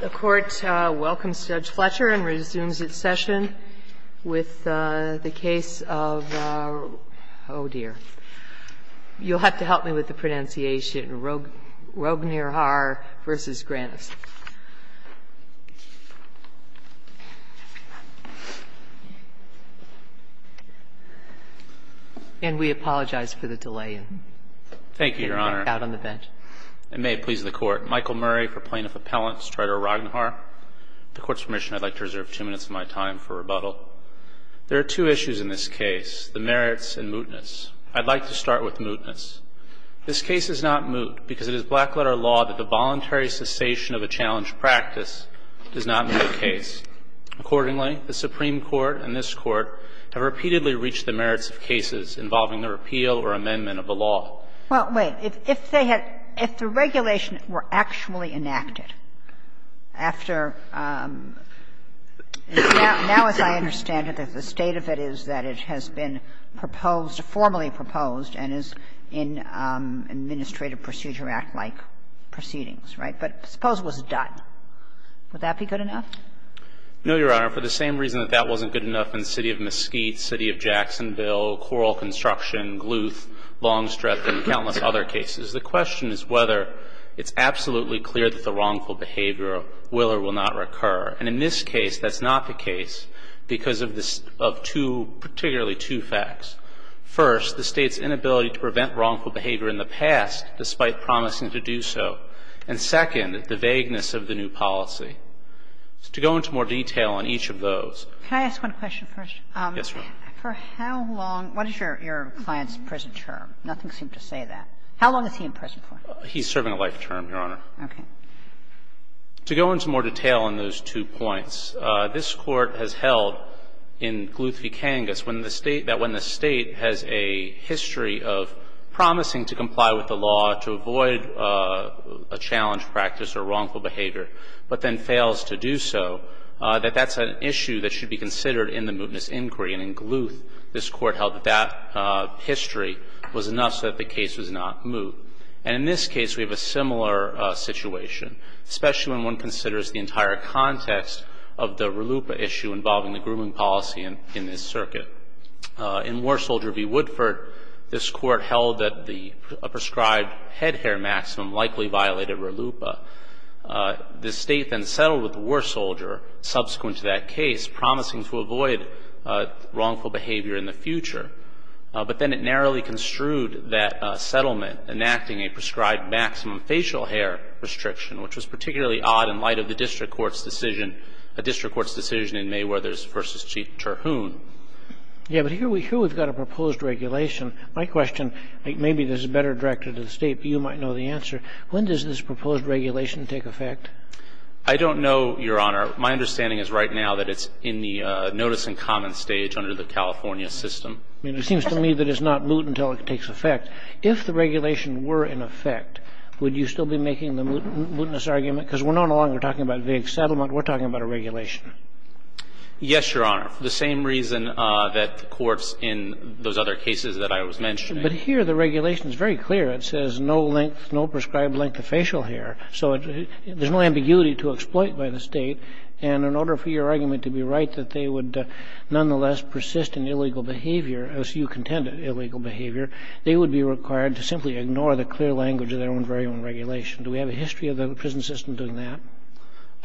The Court welcomes Judge Fletcher and resumes its session with the case of, oh, dear. You'll have to help me with the pronunciation, Rognirhar v. Grannis. And we apologize for the delay. Thank you, Your Honor. And may it please the Court. Michael Murray for Plaintiff Appellant Strider Rognirhar. With the Court's permission, I'd like to reserve two minutes of my time for rebuttal. There are two issues in this case, the merits and mootness. I'd like to start with mootness. This case is not moot because it is black-letter law that the voluntary cessation of a challenged practice does not make a case. Accordingly, the Supreme Court and this Court have repeatedly reached the merits of cases involving the repeal or amendment of a law. Well, wait. If they had – if the regulation were actually enacted after – now, as I understand it, the state of it is that it has been proposed, formally proposed, and is in Administrative Procedure Act-like proceedings, right? But suppose it was done. Would that be good enough? No, Your Honor. For the same reason that that wasn't good enough in the city of Mesquite, city of Jacksonville, coral construction, gluth, long-stretching, countless other cases. The question is whether it's absolutely clear that the wrongful behavior will or will not recur. And in this case, that's not the case because of two – particularly two facts. First, the State's inability to prevent wrongful behavior in the past despite promising to do so. And second, the vagueness of the new policy. To go into more detail on each of those. Can I ask one question first? Yes, Your Honor. For how long – what is your client's prison term? Nothing seemed to say that. How long is he in prison for? He's serving a life term, Your Honor. Okay. To go into more detail on those two points, this Court has held in Gluth v. Kangas when the State – that when the State has a history of promising to comply with the law to avoid a challenge practice or wrongful behavior, but then fails to do so, that that's an issue that should be considered in the mootness inquiry. And in Gluth, this Court held that that history was enough so that the case was not moot. And in this case, we have a similar situation, especially when one considers the entire context of the RLUIPA issue involving the grooming policy in this circuit. In War Soldier v. Woodford, this Court held that the prescribed head hair maximum likely violated RLUIPA. The State then settled with the War Soldier subsequent to that case, promising to avoid wrongful behavior in the future. But then it narrowly construed that settlement, enacting a prescribed maximum facial hair restriction, which was particularly odd in light of the district court's decision in Mayweather v. Chief Terhune. Yeah, but here we've got a proposed regulation. My question – maybe this is better directed to the State, but you might know the answer. When does this proposed regulation take effect? I don't know, Your Honor. My understanding is right now that it's in the notice and comment stage under the California system. I mean, it seems to me that it's not moot until it takes effect. If the regulation were in effect, would you still be making the mootness argument? Because we're no longer talking about vague settlement. We're talking about a regulation. Yes, Your Honor, for the same reason that the courts in those other cases that I was mentioning. But here the regulation is very clear. It says no length, no prescribed length of facial hair. So there's no ambiguity to exploit by the State. And in order for your argument to be right that they would nonetheless persist in illegal behavior, as you contend illegal behavior, they would be required to simply ignore the clear language of their own very own regulation. Do we have a history of the prison system doing that?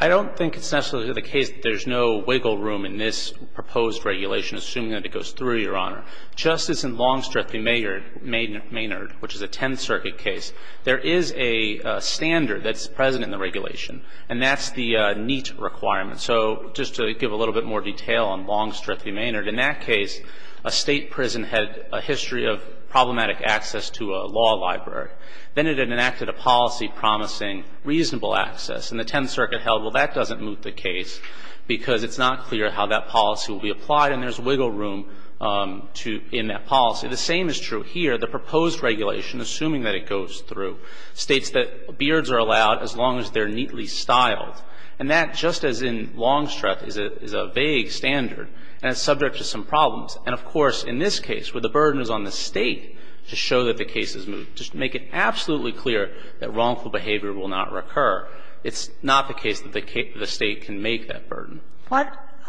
I don't think it's necessarily the case that there's no wiggle room in this proposed regulation, assuming that it goes through, Your Honor. Justice in Longstreth v. Maynard, which is a Tenth Circuit case, there is a standard that's present in the regulation, and that's the NEET requirement. So just to give a little bit more detail on Longstreth v. Maynard, in that case, a State prison had a history of problematic access to a law library. Then it enacted a policy promising reasonable access. And the Tenth Circuit held, well, that doesn't moot the case because it's not clear how that policy will be applied. And there's wiggle room in that policy. The same is true here. The proposed regulation, assuming that it goes through, states that beards are allowed as long as they're neatly styled. And that, just as in Longstreth, is a vague standard, and it's subject to some problems. And, of course, in this case, where the burden is on the State to show that the case is moot, to make it absolutely clear that wrongful behavior will not recur, it's not the case that the State can make that burden. What —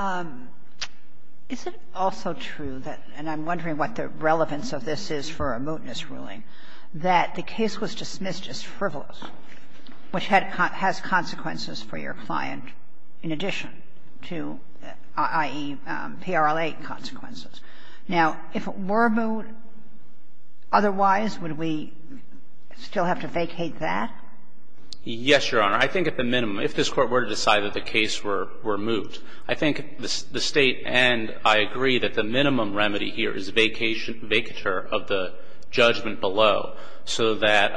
is it also true that — and I'm wondering what the relevance of this is for a mootness ruling — that the case was dismissed as frivolous, which has consequences for your client in addition to, i.e., PRL-8 consequences? Now, if it were moot, otherwise, would we still have to vacate that? Yes, Your Honor. I think at the minimum, if this Court were to decide that the case were moot, I think the State and I agree that the minimum remedy here is vacature of the judgment below so that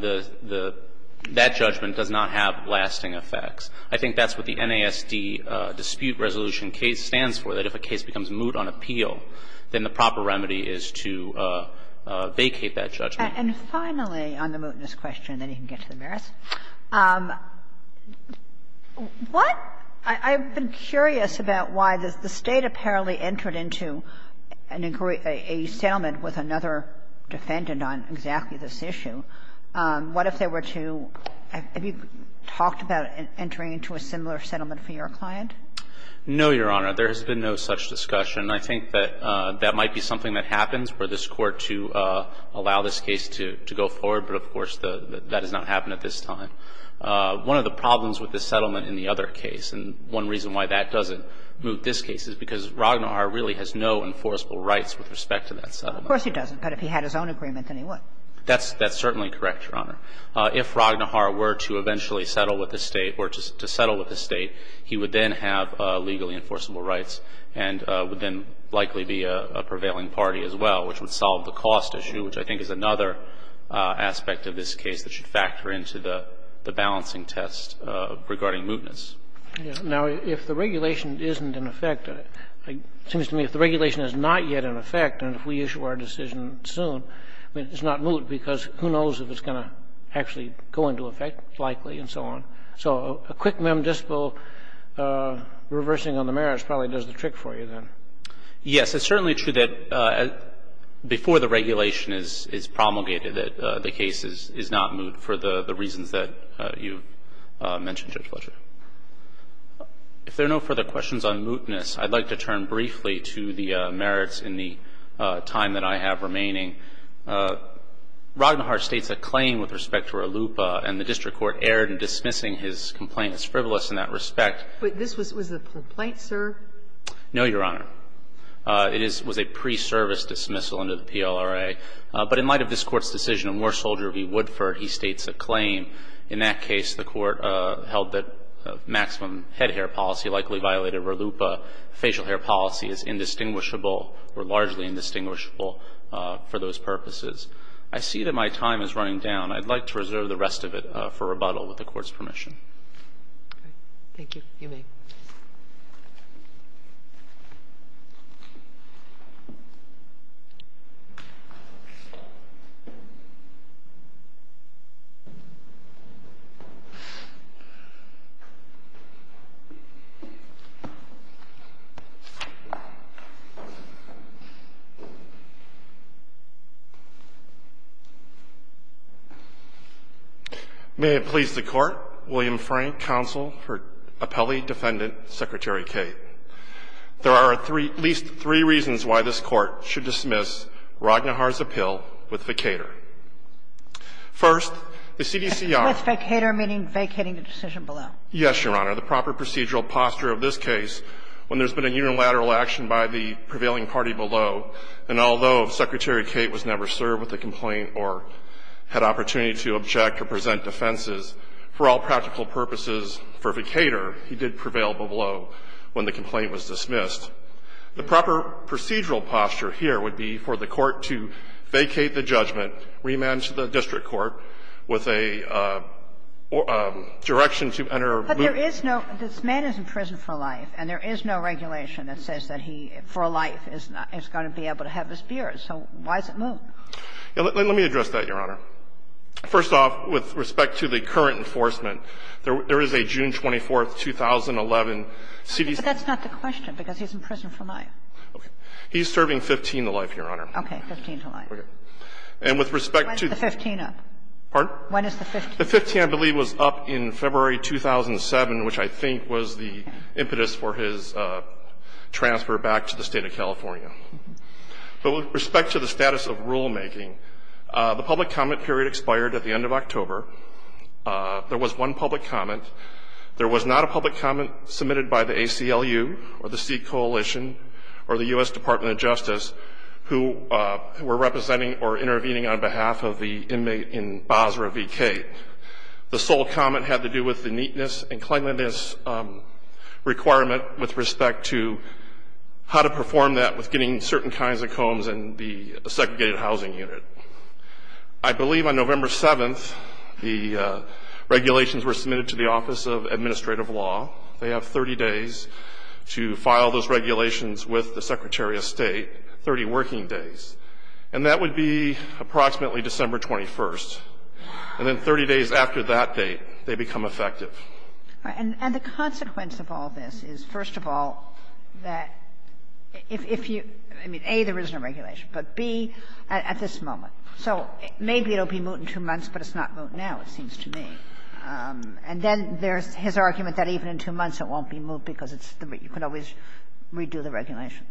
the — that judgment does not have lasting effects. I think that's what the NASD dispute resolution case stands for, that if a case becomes moot on appeal, then the proper remedy is to vacate that judgment. And finally, on the mootness question, then you can get to the merits, what — I've been curious about why the State apparently entered into an agree — a settlement with another defendant on exactly this issue. What if they were to — have you talked about entering into a similar settlement for your client? No, Your Honor. There has been no such discussion. And I think that that might be something that happens for this Court to allow this case to go forward, but of course, that has not happened at this time. One of the problems with the settlement in the other case, and one reason why that doesn't moot this case, is because Ragnarar really has no enforceable rights with respect to that settlement. Of course he doesn't, but if he had his own agreement, then he would. That's certainly correct, Your Honor. If Ragnarar were to eventually settle with the State or to settle with the State, he would then have legally enforceable rights and would then likely be a prevailing party as well, which would solve the cost issue, which I think is another aspect of this case that should factor into the balancing test regarding mootness. Now, if the regulation isn't in effect, it seems to me if the regulation is not yet in effect and if we issue our decision soon, I mean, it's not moot, because who knows if it's going to actually go into effect likely and so on. So a quick mem dispo reversing on the merits probably does the trick for you then. Yes. It's certainly true that before the regulation is promulgated, that the case is not moot for the reasons that you mentioned, Judge Fletcher. If there are no further questions on mootness, I'd like to turn briefly to the merits in the time that I have remaining. Ragnarar states a claim with respect to RLUIPA and the district court erred in dismissing his complaint as frivolous in that respect. But this was a complaint, sir? No, Your Honor. It was a pre-service dismissal under the PLRA. But in light of this Court's decision of Moore Soldier v. Woodford, he states a claim. In that case, the Court held that maximum head hair policy likely violated RLUIPA. Facial hair policy is indistinguishable or largely indistinguishable for those purposes. I see that my time is running down. I'd like to reserve the rest of it for rebuttal with the Court's permission. All right. Thank you. You may. May it please the Court, William Frank, counsel for Appellee Defendant Secretary Cate. There are at least three reasons why this Court should dismiss Ragnarar's appeal with vacator. First, the CDCR ---- With vacator meaning vacating the decision below. Yes, Your Honor. The proper procedural posture of this case, when there's been a unilateral action by the prevailing party below, and although Secretary Cate was never served with a complaint or had opportunity to object or present defenses, for all practical purposes, for vacator, he did prevail below when the complaint was dismissed. The proper procedural posture here would be for the Court to vacate the judgment, remand to the district court with a direction to enter a loophole. But there is no ---- this man is in prison for life, and there is no regulation that says that he, for a life, is going to be able to have his beard. So why is it Moore? Let me address that, Your Honor. First off, with respect to the current enforcement, there is a June 24, 2011 CDCR But that's not the question, because he's in prison for life. Okay. He's serving 15 to life, Your Honor. Okay. 15 to life. Okay. And with respect to the ---- When is the 15 up? Pardon? When is the 15? The 15, I believe, was up in February 2007, which I think was the impetus for his transfer back to the State of California. But with respect to the status of rulemaking, the public comment period expired at the end of October. There was one public comment. There was not a public comment submitted by the ACLU or the C Coalition or the U.S. Department of Justice who were representing or intervening on behalf of the inmate in Basra v. Kate. The sole comment had to do with the neatness and cleanliness requirement with respect to how to perform that with getting certain kinds of combs in the segregated housing unit. I believe on November 7th, the regulations were submitted to the Office of Administrative Law. They have 30 days to file those regulations with the Secretary of State, 30 working days. And that would be approximately December 21st. And then 30 days after that date, they become effective. And the consequence of all this is, first of all, that if you – I mean, A, there is no regulation, but B, at this moment. So maybe it will be moot in two months, but it's not moot now, it seems to me. And then there's his argument that even in two months it won't be moot because it's the – you can always redo the regulation.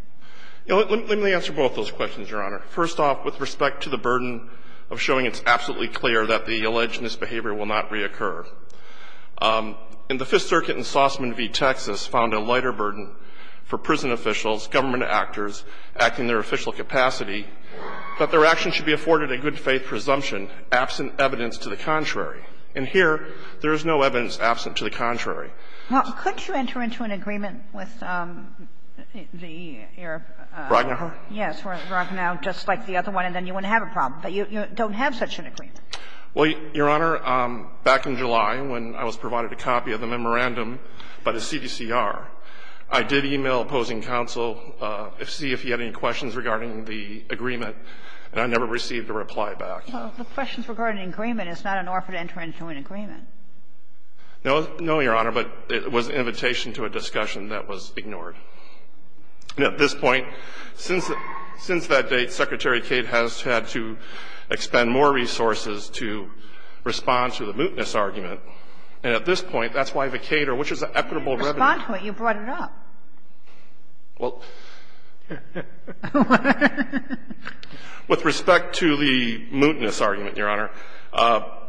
Let me answer both those questions, Your Honor. First off, with respect to the burden of showing it's absolutely clear that the alleged misbehavior will not reoccur. And the Fifth Circuit in Sausman v. Texas found a lighter burden for prison officials, government actors, acting in their official capacity, that their actions should be afforded a good-faith presumption absent evidence to the contrary. And here, there is no evidence absent to the contrary. Well, couldn't you enter into an agreement with the Arab – Rognau? Yes, Rognau, just like the other one, and then you wouldn't have a problem. But you don't have such an agreement. Well, Your Honor, back in July, when I was provided a copy of the memorandum by the CDCR, I did e-mail opposing counsel to see if he had any questions regarding the agreement, and I never received a reply back. Well, the questions regarding the agreement is not an offer to enter into an agreement. No, no, Your Honor, but it was an invitation to a discussion that was ignored. And at this point, since that date, Secretary Cate has had to expend more resources to respond to the mootness argument. And at this point, that's why the Cater, which is an equitable revenue – Respond to it. You brought it up. Well, with respect to the mootness argument, Your Honor,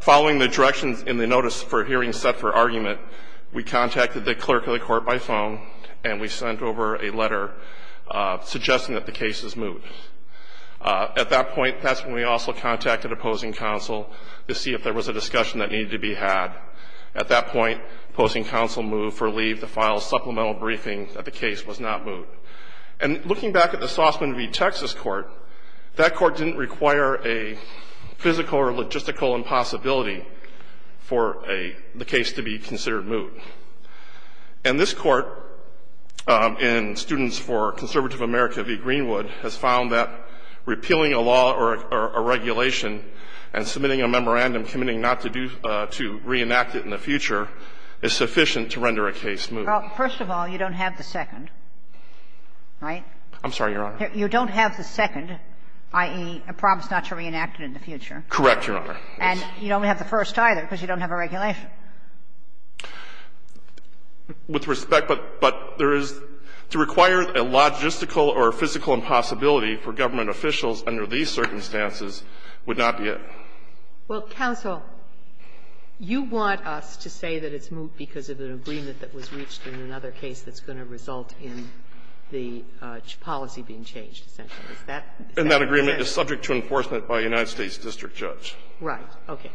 following the directions in the notice for a hearing set for argument, we contacted the clerk of the court by phone, and we sent over a letter suggesting that the case is moot. At that point, that's when we also contacted opposing counsel to see if there was a discussion that needed to be had. At that point, opposing counsel moved for leave to file a supplemental briefing that the case was not moot. And looking back at the Saussman v. Texas court, that court didn't require a physical or logistical impossibility for a – the case to be considered moot. And this Court, in Students for Conservative America v. Greenwood, has found that repealing a law or a regulation and submitting a memorandum committing not to do – to reenact it in the future is sufficient to render a case moot. Well, first of all, you don't have the second, right? I'm sorry, Your Honor. You don't have the second, i.e., a promise not to reenact it in the future. Correct, Your Honor. And you don't have the first either because you don't have a regulation. With respect, but there is – to require a logistical or a physical impossibility for government officials under these circumstances would not be it. Well, counsel, you want us to say that it's moot because of an agreement that was reached in another case that's going to result in the policy being changed, essentially. Is that what you're saying? And that agreement is subject to enforcement by a United States district judge. Right. Okay.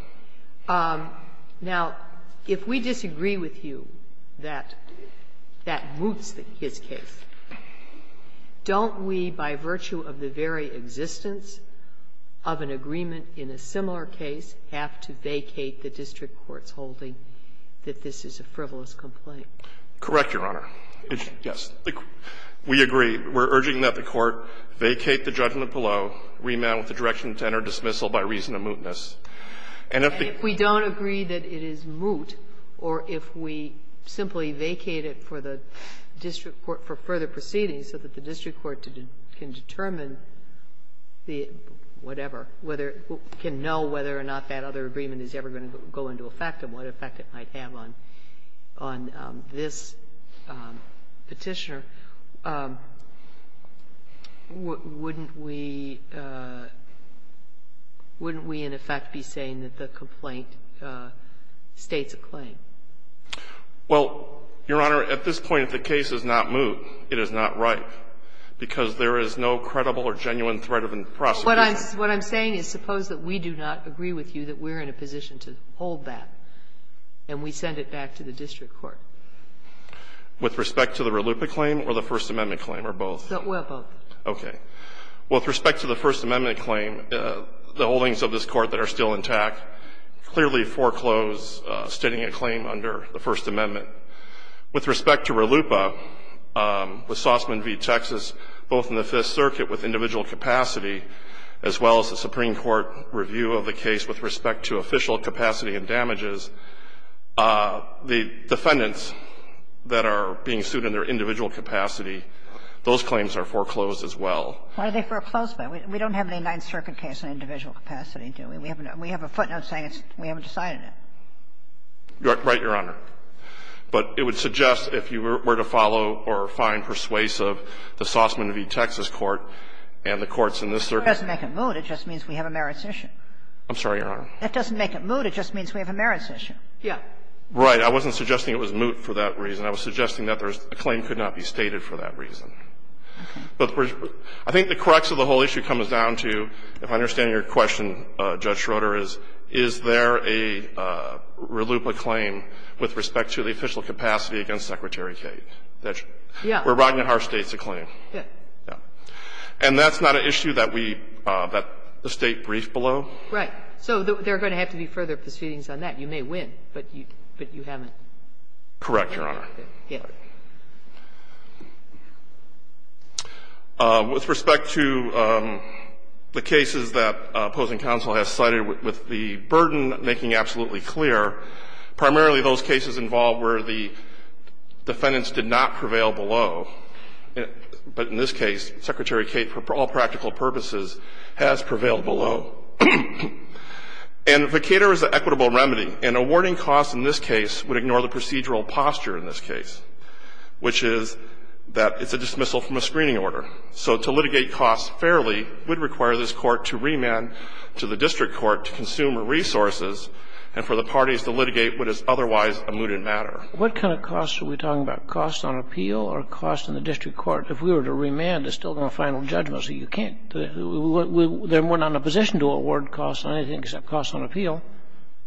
Now, if we disagree with you that that moots his case, don't we, by virtue of the very existence of an agreement in a similar case, have to vacate the district court's holding that this is a frivolous complaint? Correct, Your Honor. Yes. We agree. We're urging that the Court vacate the judgment below, remand with the direction to enter dismissal by reason of mootness. And if the – And if we don't agree that it is moot, or if we simply vacate it for the district court for further proceedings so that the district court can determine the whatever, whether – can know whether or not that other agreement is ever going to go into effect and what effect it might have on this Petitioner, wouldn't we – wouldn't we, in effect, be saying that the complaint states a claim? Well, Your Honor, at this point, if the case is not moot, it is not right, because there is no credible or genuine threat of prosecution. What I'm saying is suppose that we do not agree with you that we're in a position to hold that, and we send it back to the district court. With respect to the Raluppa claim or the First Amendment claim, or both? Or both. Okay. Well, with respect to the First Amendment claim, the holdings of this Court that are still intact clearly foreclose stating a claim under the First Amendment. With respect to Raluppa, with Sausman v. Texas, both in the Fifth Circuit with individual capacity, as well as the Supreme Court review of the case with respect to official capacity and damages, the defendants that are being sued in their individual capacity, those claims are foreclosed as well. Why are they foreclosed by? We don't have a Ninth Circuit case in individual capacity, do we? We have a footnote saying we haven't decided it. Right, Your Honor. But it would suggest if you were to follow or find persuasive the Sausman v. Texas court and the courts in this circuit. If it doesn't make it moot, it just means we have a merits issue. I'm sorry, Your Honor. If it doesn't make it moot, it just means we have a merits issue. Yeah. Right. I wasn't suggesting it was moot for that reason. I was suggesting that there's the claim could not be stated for that reason. But I think the crux of the whole issue comes down to, if I understand your question, Judge Schroeder, is, is there a Raluppa claim with respect to the official capacity against Secretary Kate? Yeah. Where Rodney Harsh states a claim. Yeah. Yeah. And that's not an issue that we – that the State briefed below? Right. So there are going to have to be further proceedings on that. You may win, but you haven't. Correct, Your Honor. Yeah. With respect to the cases that opposing counsel has cited with the burden, making absolutely clear, primarily those cases involved where the defendants did not prevail below, but in this case, Secretary Kate, for all practical purposes, has prevailed below. And the vacator is an equitable remedy, and awarding costs in this case would ignore the procedural posture in this case, which is that it's a dismissal from a screening order. So to litigate costs fairly would require this Court to remand to the district court to consume resources and for the parties to litigate what is otherwise a mooted matter. What kind of costs are we talking about? Costs on appeal or costs in the district court? If we were to remand, it's still going to final judgment. So you can't – we're not in a position to award costs on anything except costs on appeal.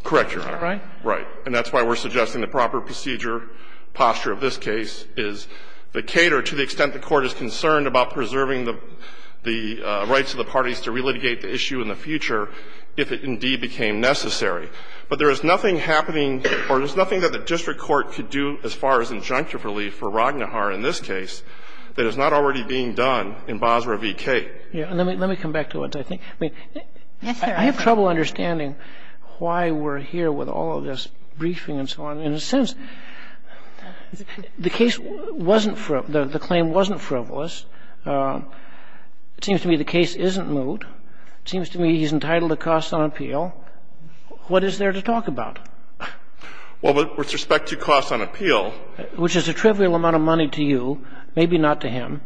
Correct, Your Honor. Right? Right. And that's why we're suggesting the proper procedure, posture of this case, is the cater to the extent the Court is concerned about preserving the rights of the parties to relitigate the issue in the future if it indeed became necessary. But there is nothing happening, or there's nothing that the district court could do as far as injunctive relief for Ragnahar in this case that is not already being done in Basra v. Kate. Let me – let me come back to it. I think – I mean, I have trouble understanding why we're here with all of this briefing and so on. In a sense, the case wasn't – the claim wasn't frivolous. It seems to me the case isn't moot. It seems to me he's entitled to costs on appeal. What is there to talk about? Well, with respect to costs on appeal – Which is a trivial amount of money to you, maybe not to him.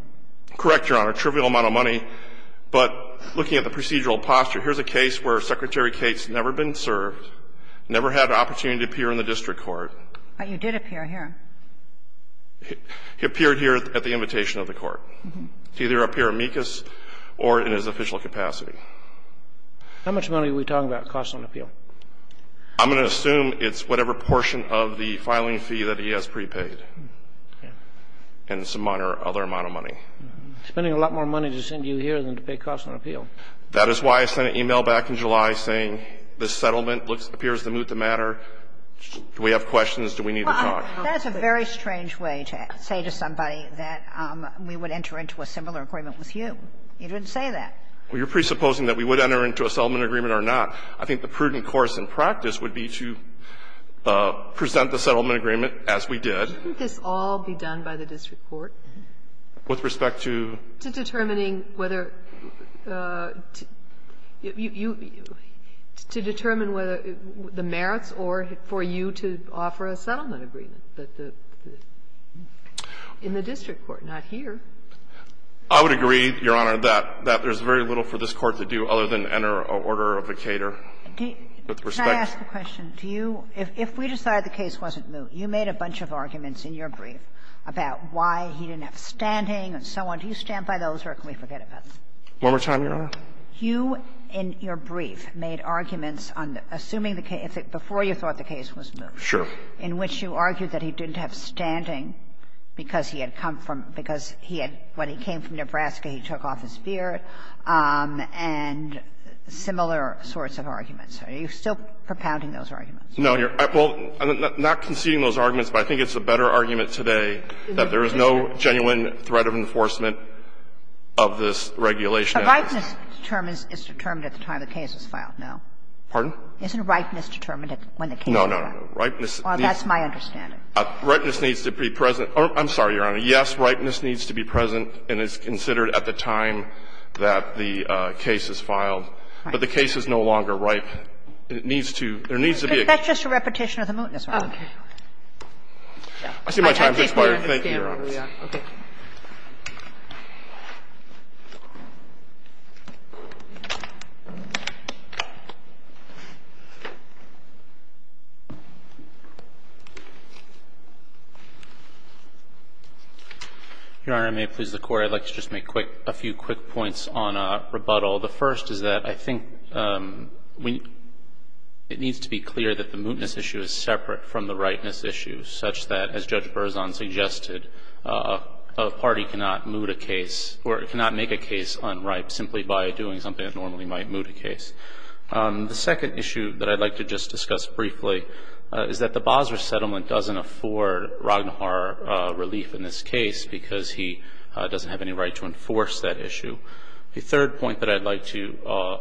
Correct, Your Honor. Trivial amount of money. But looking at the procedural posture, here's a case where Secretary Kate's never been served, never had an opportunity to appear in the district court. But you did appear here. He appeared here at the invitation of the court. To either appear amicus or in his official capacity. How much money are we talking about, costs on appeal? I'm going to assume it's whatever portion of the filing fee that he has prepaid. And it's a minor other amount of money. Spending a lot more money to send you here than to pay costs on appeal. That is why I sent an e-mail back in July saying this settlement appears to moot the matter. Do we have questions? Do we need to talk? That's a very strange way to say to somebody that we would enter into a similar agreement with you. You didn't say that. Well, you're presupposing that we would enter into a settlement agreement or not. I think the prudent course in practice would be to present the settlement agreement as we did. Shouldn't this all be done by the district court? With respect to? To determining whether you to determine whether the merits or for you to offer a settlement agreement, but the in the district court, not here. I would agree, Your Honor, that there's very little for this Court to do other than enter an order of vacator. With respect to. Can I ask a question? Do you, if we decide the case wasn't moot, you made a bunch of arguments in your brief about why he didn't have standing and so on. Do you stand by those or can we forget about them? One more time, Your Honor. You, in your brief, made arguments on assuming the case, before you thought the case was moot. Sure. In which you argued that he didn't have standing because he had come from, because he had, when he came from Nebraska, he took off his beard, and similar sorts of arguments. Are you still propounding those arguments? No. Well, I'm not conceding those arguments, but I think it's a better argument today that there is no genuine threat of enforcement of this regulation. But ripeness determines, is determined at the time the case is filed, no? Pardon? Isn't ripeness determined at when the case is filed? No, no, no. Ripeness needs to be present. That's my understanding. I'm sorry, Your Honor. Yes, ripeness needs to be present and is considered at the time that the case is filed. But the case is no longer ripe. It needs to, there needs to be a. That's just a repetition of the mootness argument. Okay. I see my time's expired. Thank you, Your Honor. Okay. Your Honor, if I may please the Court, I'd like to just make a few quick points on rebuttal. The first is that I think we, it needs to be clear that the mootness issue is separate from the ripeness issue such that, as Judge Berzon suggested, a party cannot moot a case or cannot make a case unripe simply by doing something that normally might moot a case. The second issue that I'd like to just discuss briefly is that the Basra settlement doesn't afford Raghnawar relief in this case because he doesn't have any right to enforce that issue. The third point that I'd like to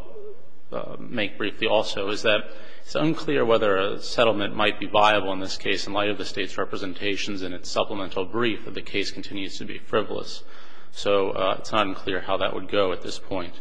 make briefly also is that it's unclear whether a settlement might be viable in this case in light of the State's representations and its supplemental brief if the case continues to be frivolous. So it's not unclear how that would go at this point.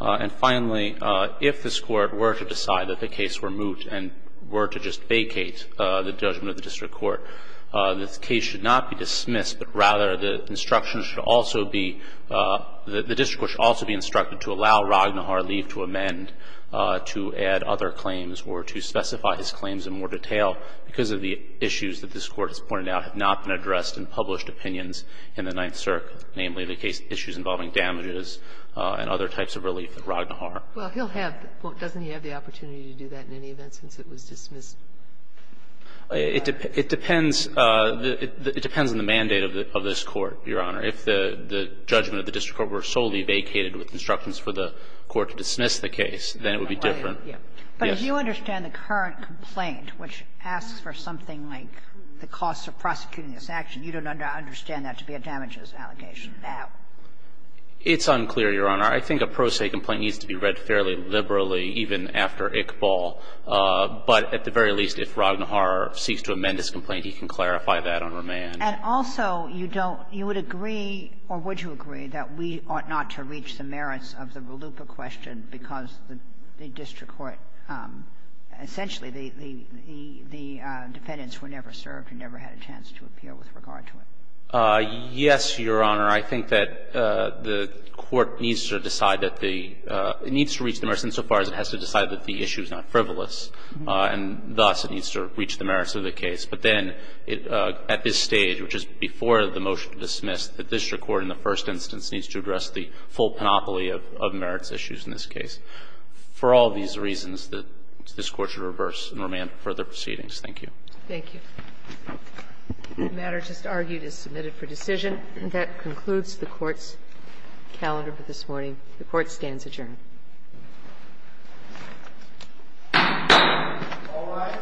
And finally, if this Court were to decide that the case were moot and were to just vacate the judgment of the district court, the case should not be dismissed, but rather the instructions should also be, the district court should also be instructed to allow Raghnawar relief to amend, to add other claims, or to specify his claims in more detail because of the issues that this Court has pointed out have not been addressed in published opinions in the Ninth Circuit, namely the case issues involving damages and other types of relief at Raghnawar. Well, he'll have the point. Doesn't he have the opportunity to do that in any event since it was dismissed? It depends on the mandate of this Court, Your Honor. If the judgment of the district court were solely vacated with instructions for the Court to dismiss the case, then it would be different. Right, yeah. But if you understand the current complaint, which asks for something like the costs of prosecuting this action, you don't understand that to be a damages allegation at all. It's unclear, Your Honor. I think a pro se complaint needs to be read fairly liberally even after Iqbal. But at the very least, if Raghnawar seeks to amend his complaint, he can clarify that on remand. And also, you don't you would agree or would you agree that we ought not to reach the merits of the Valupa question because the district court, essentially the defendants were never served and never had a chance to appear with regard to it? Yes, Your Honor. I think that the court needs to decide that the needs to reach the merits insofar as it has to decide that the issue is not frivolous, and thus it needs to reach the merits of the case. But then at this stage, which is before the motion to dismiss, the district court in the first instance needs to address the full panoply of merits issues in this case. For all these reasons, this Court should reverse and remand further proceedings. Thank you. Thank you. The matter just argued is submitted for decision. And that concludes the Court's calendar for this morning. The Court stands adjourned. All rise. The Court of Procedure stands adjourned.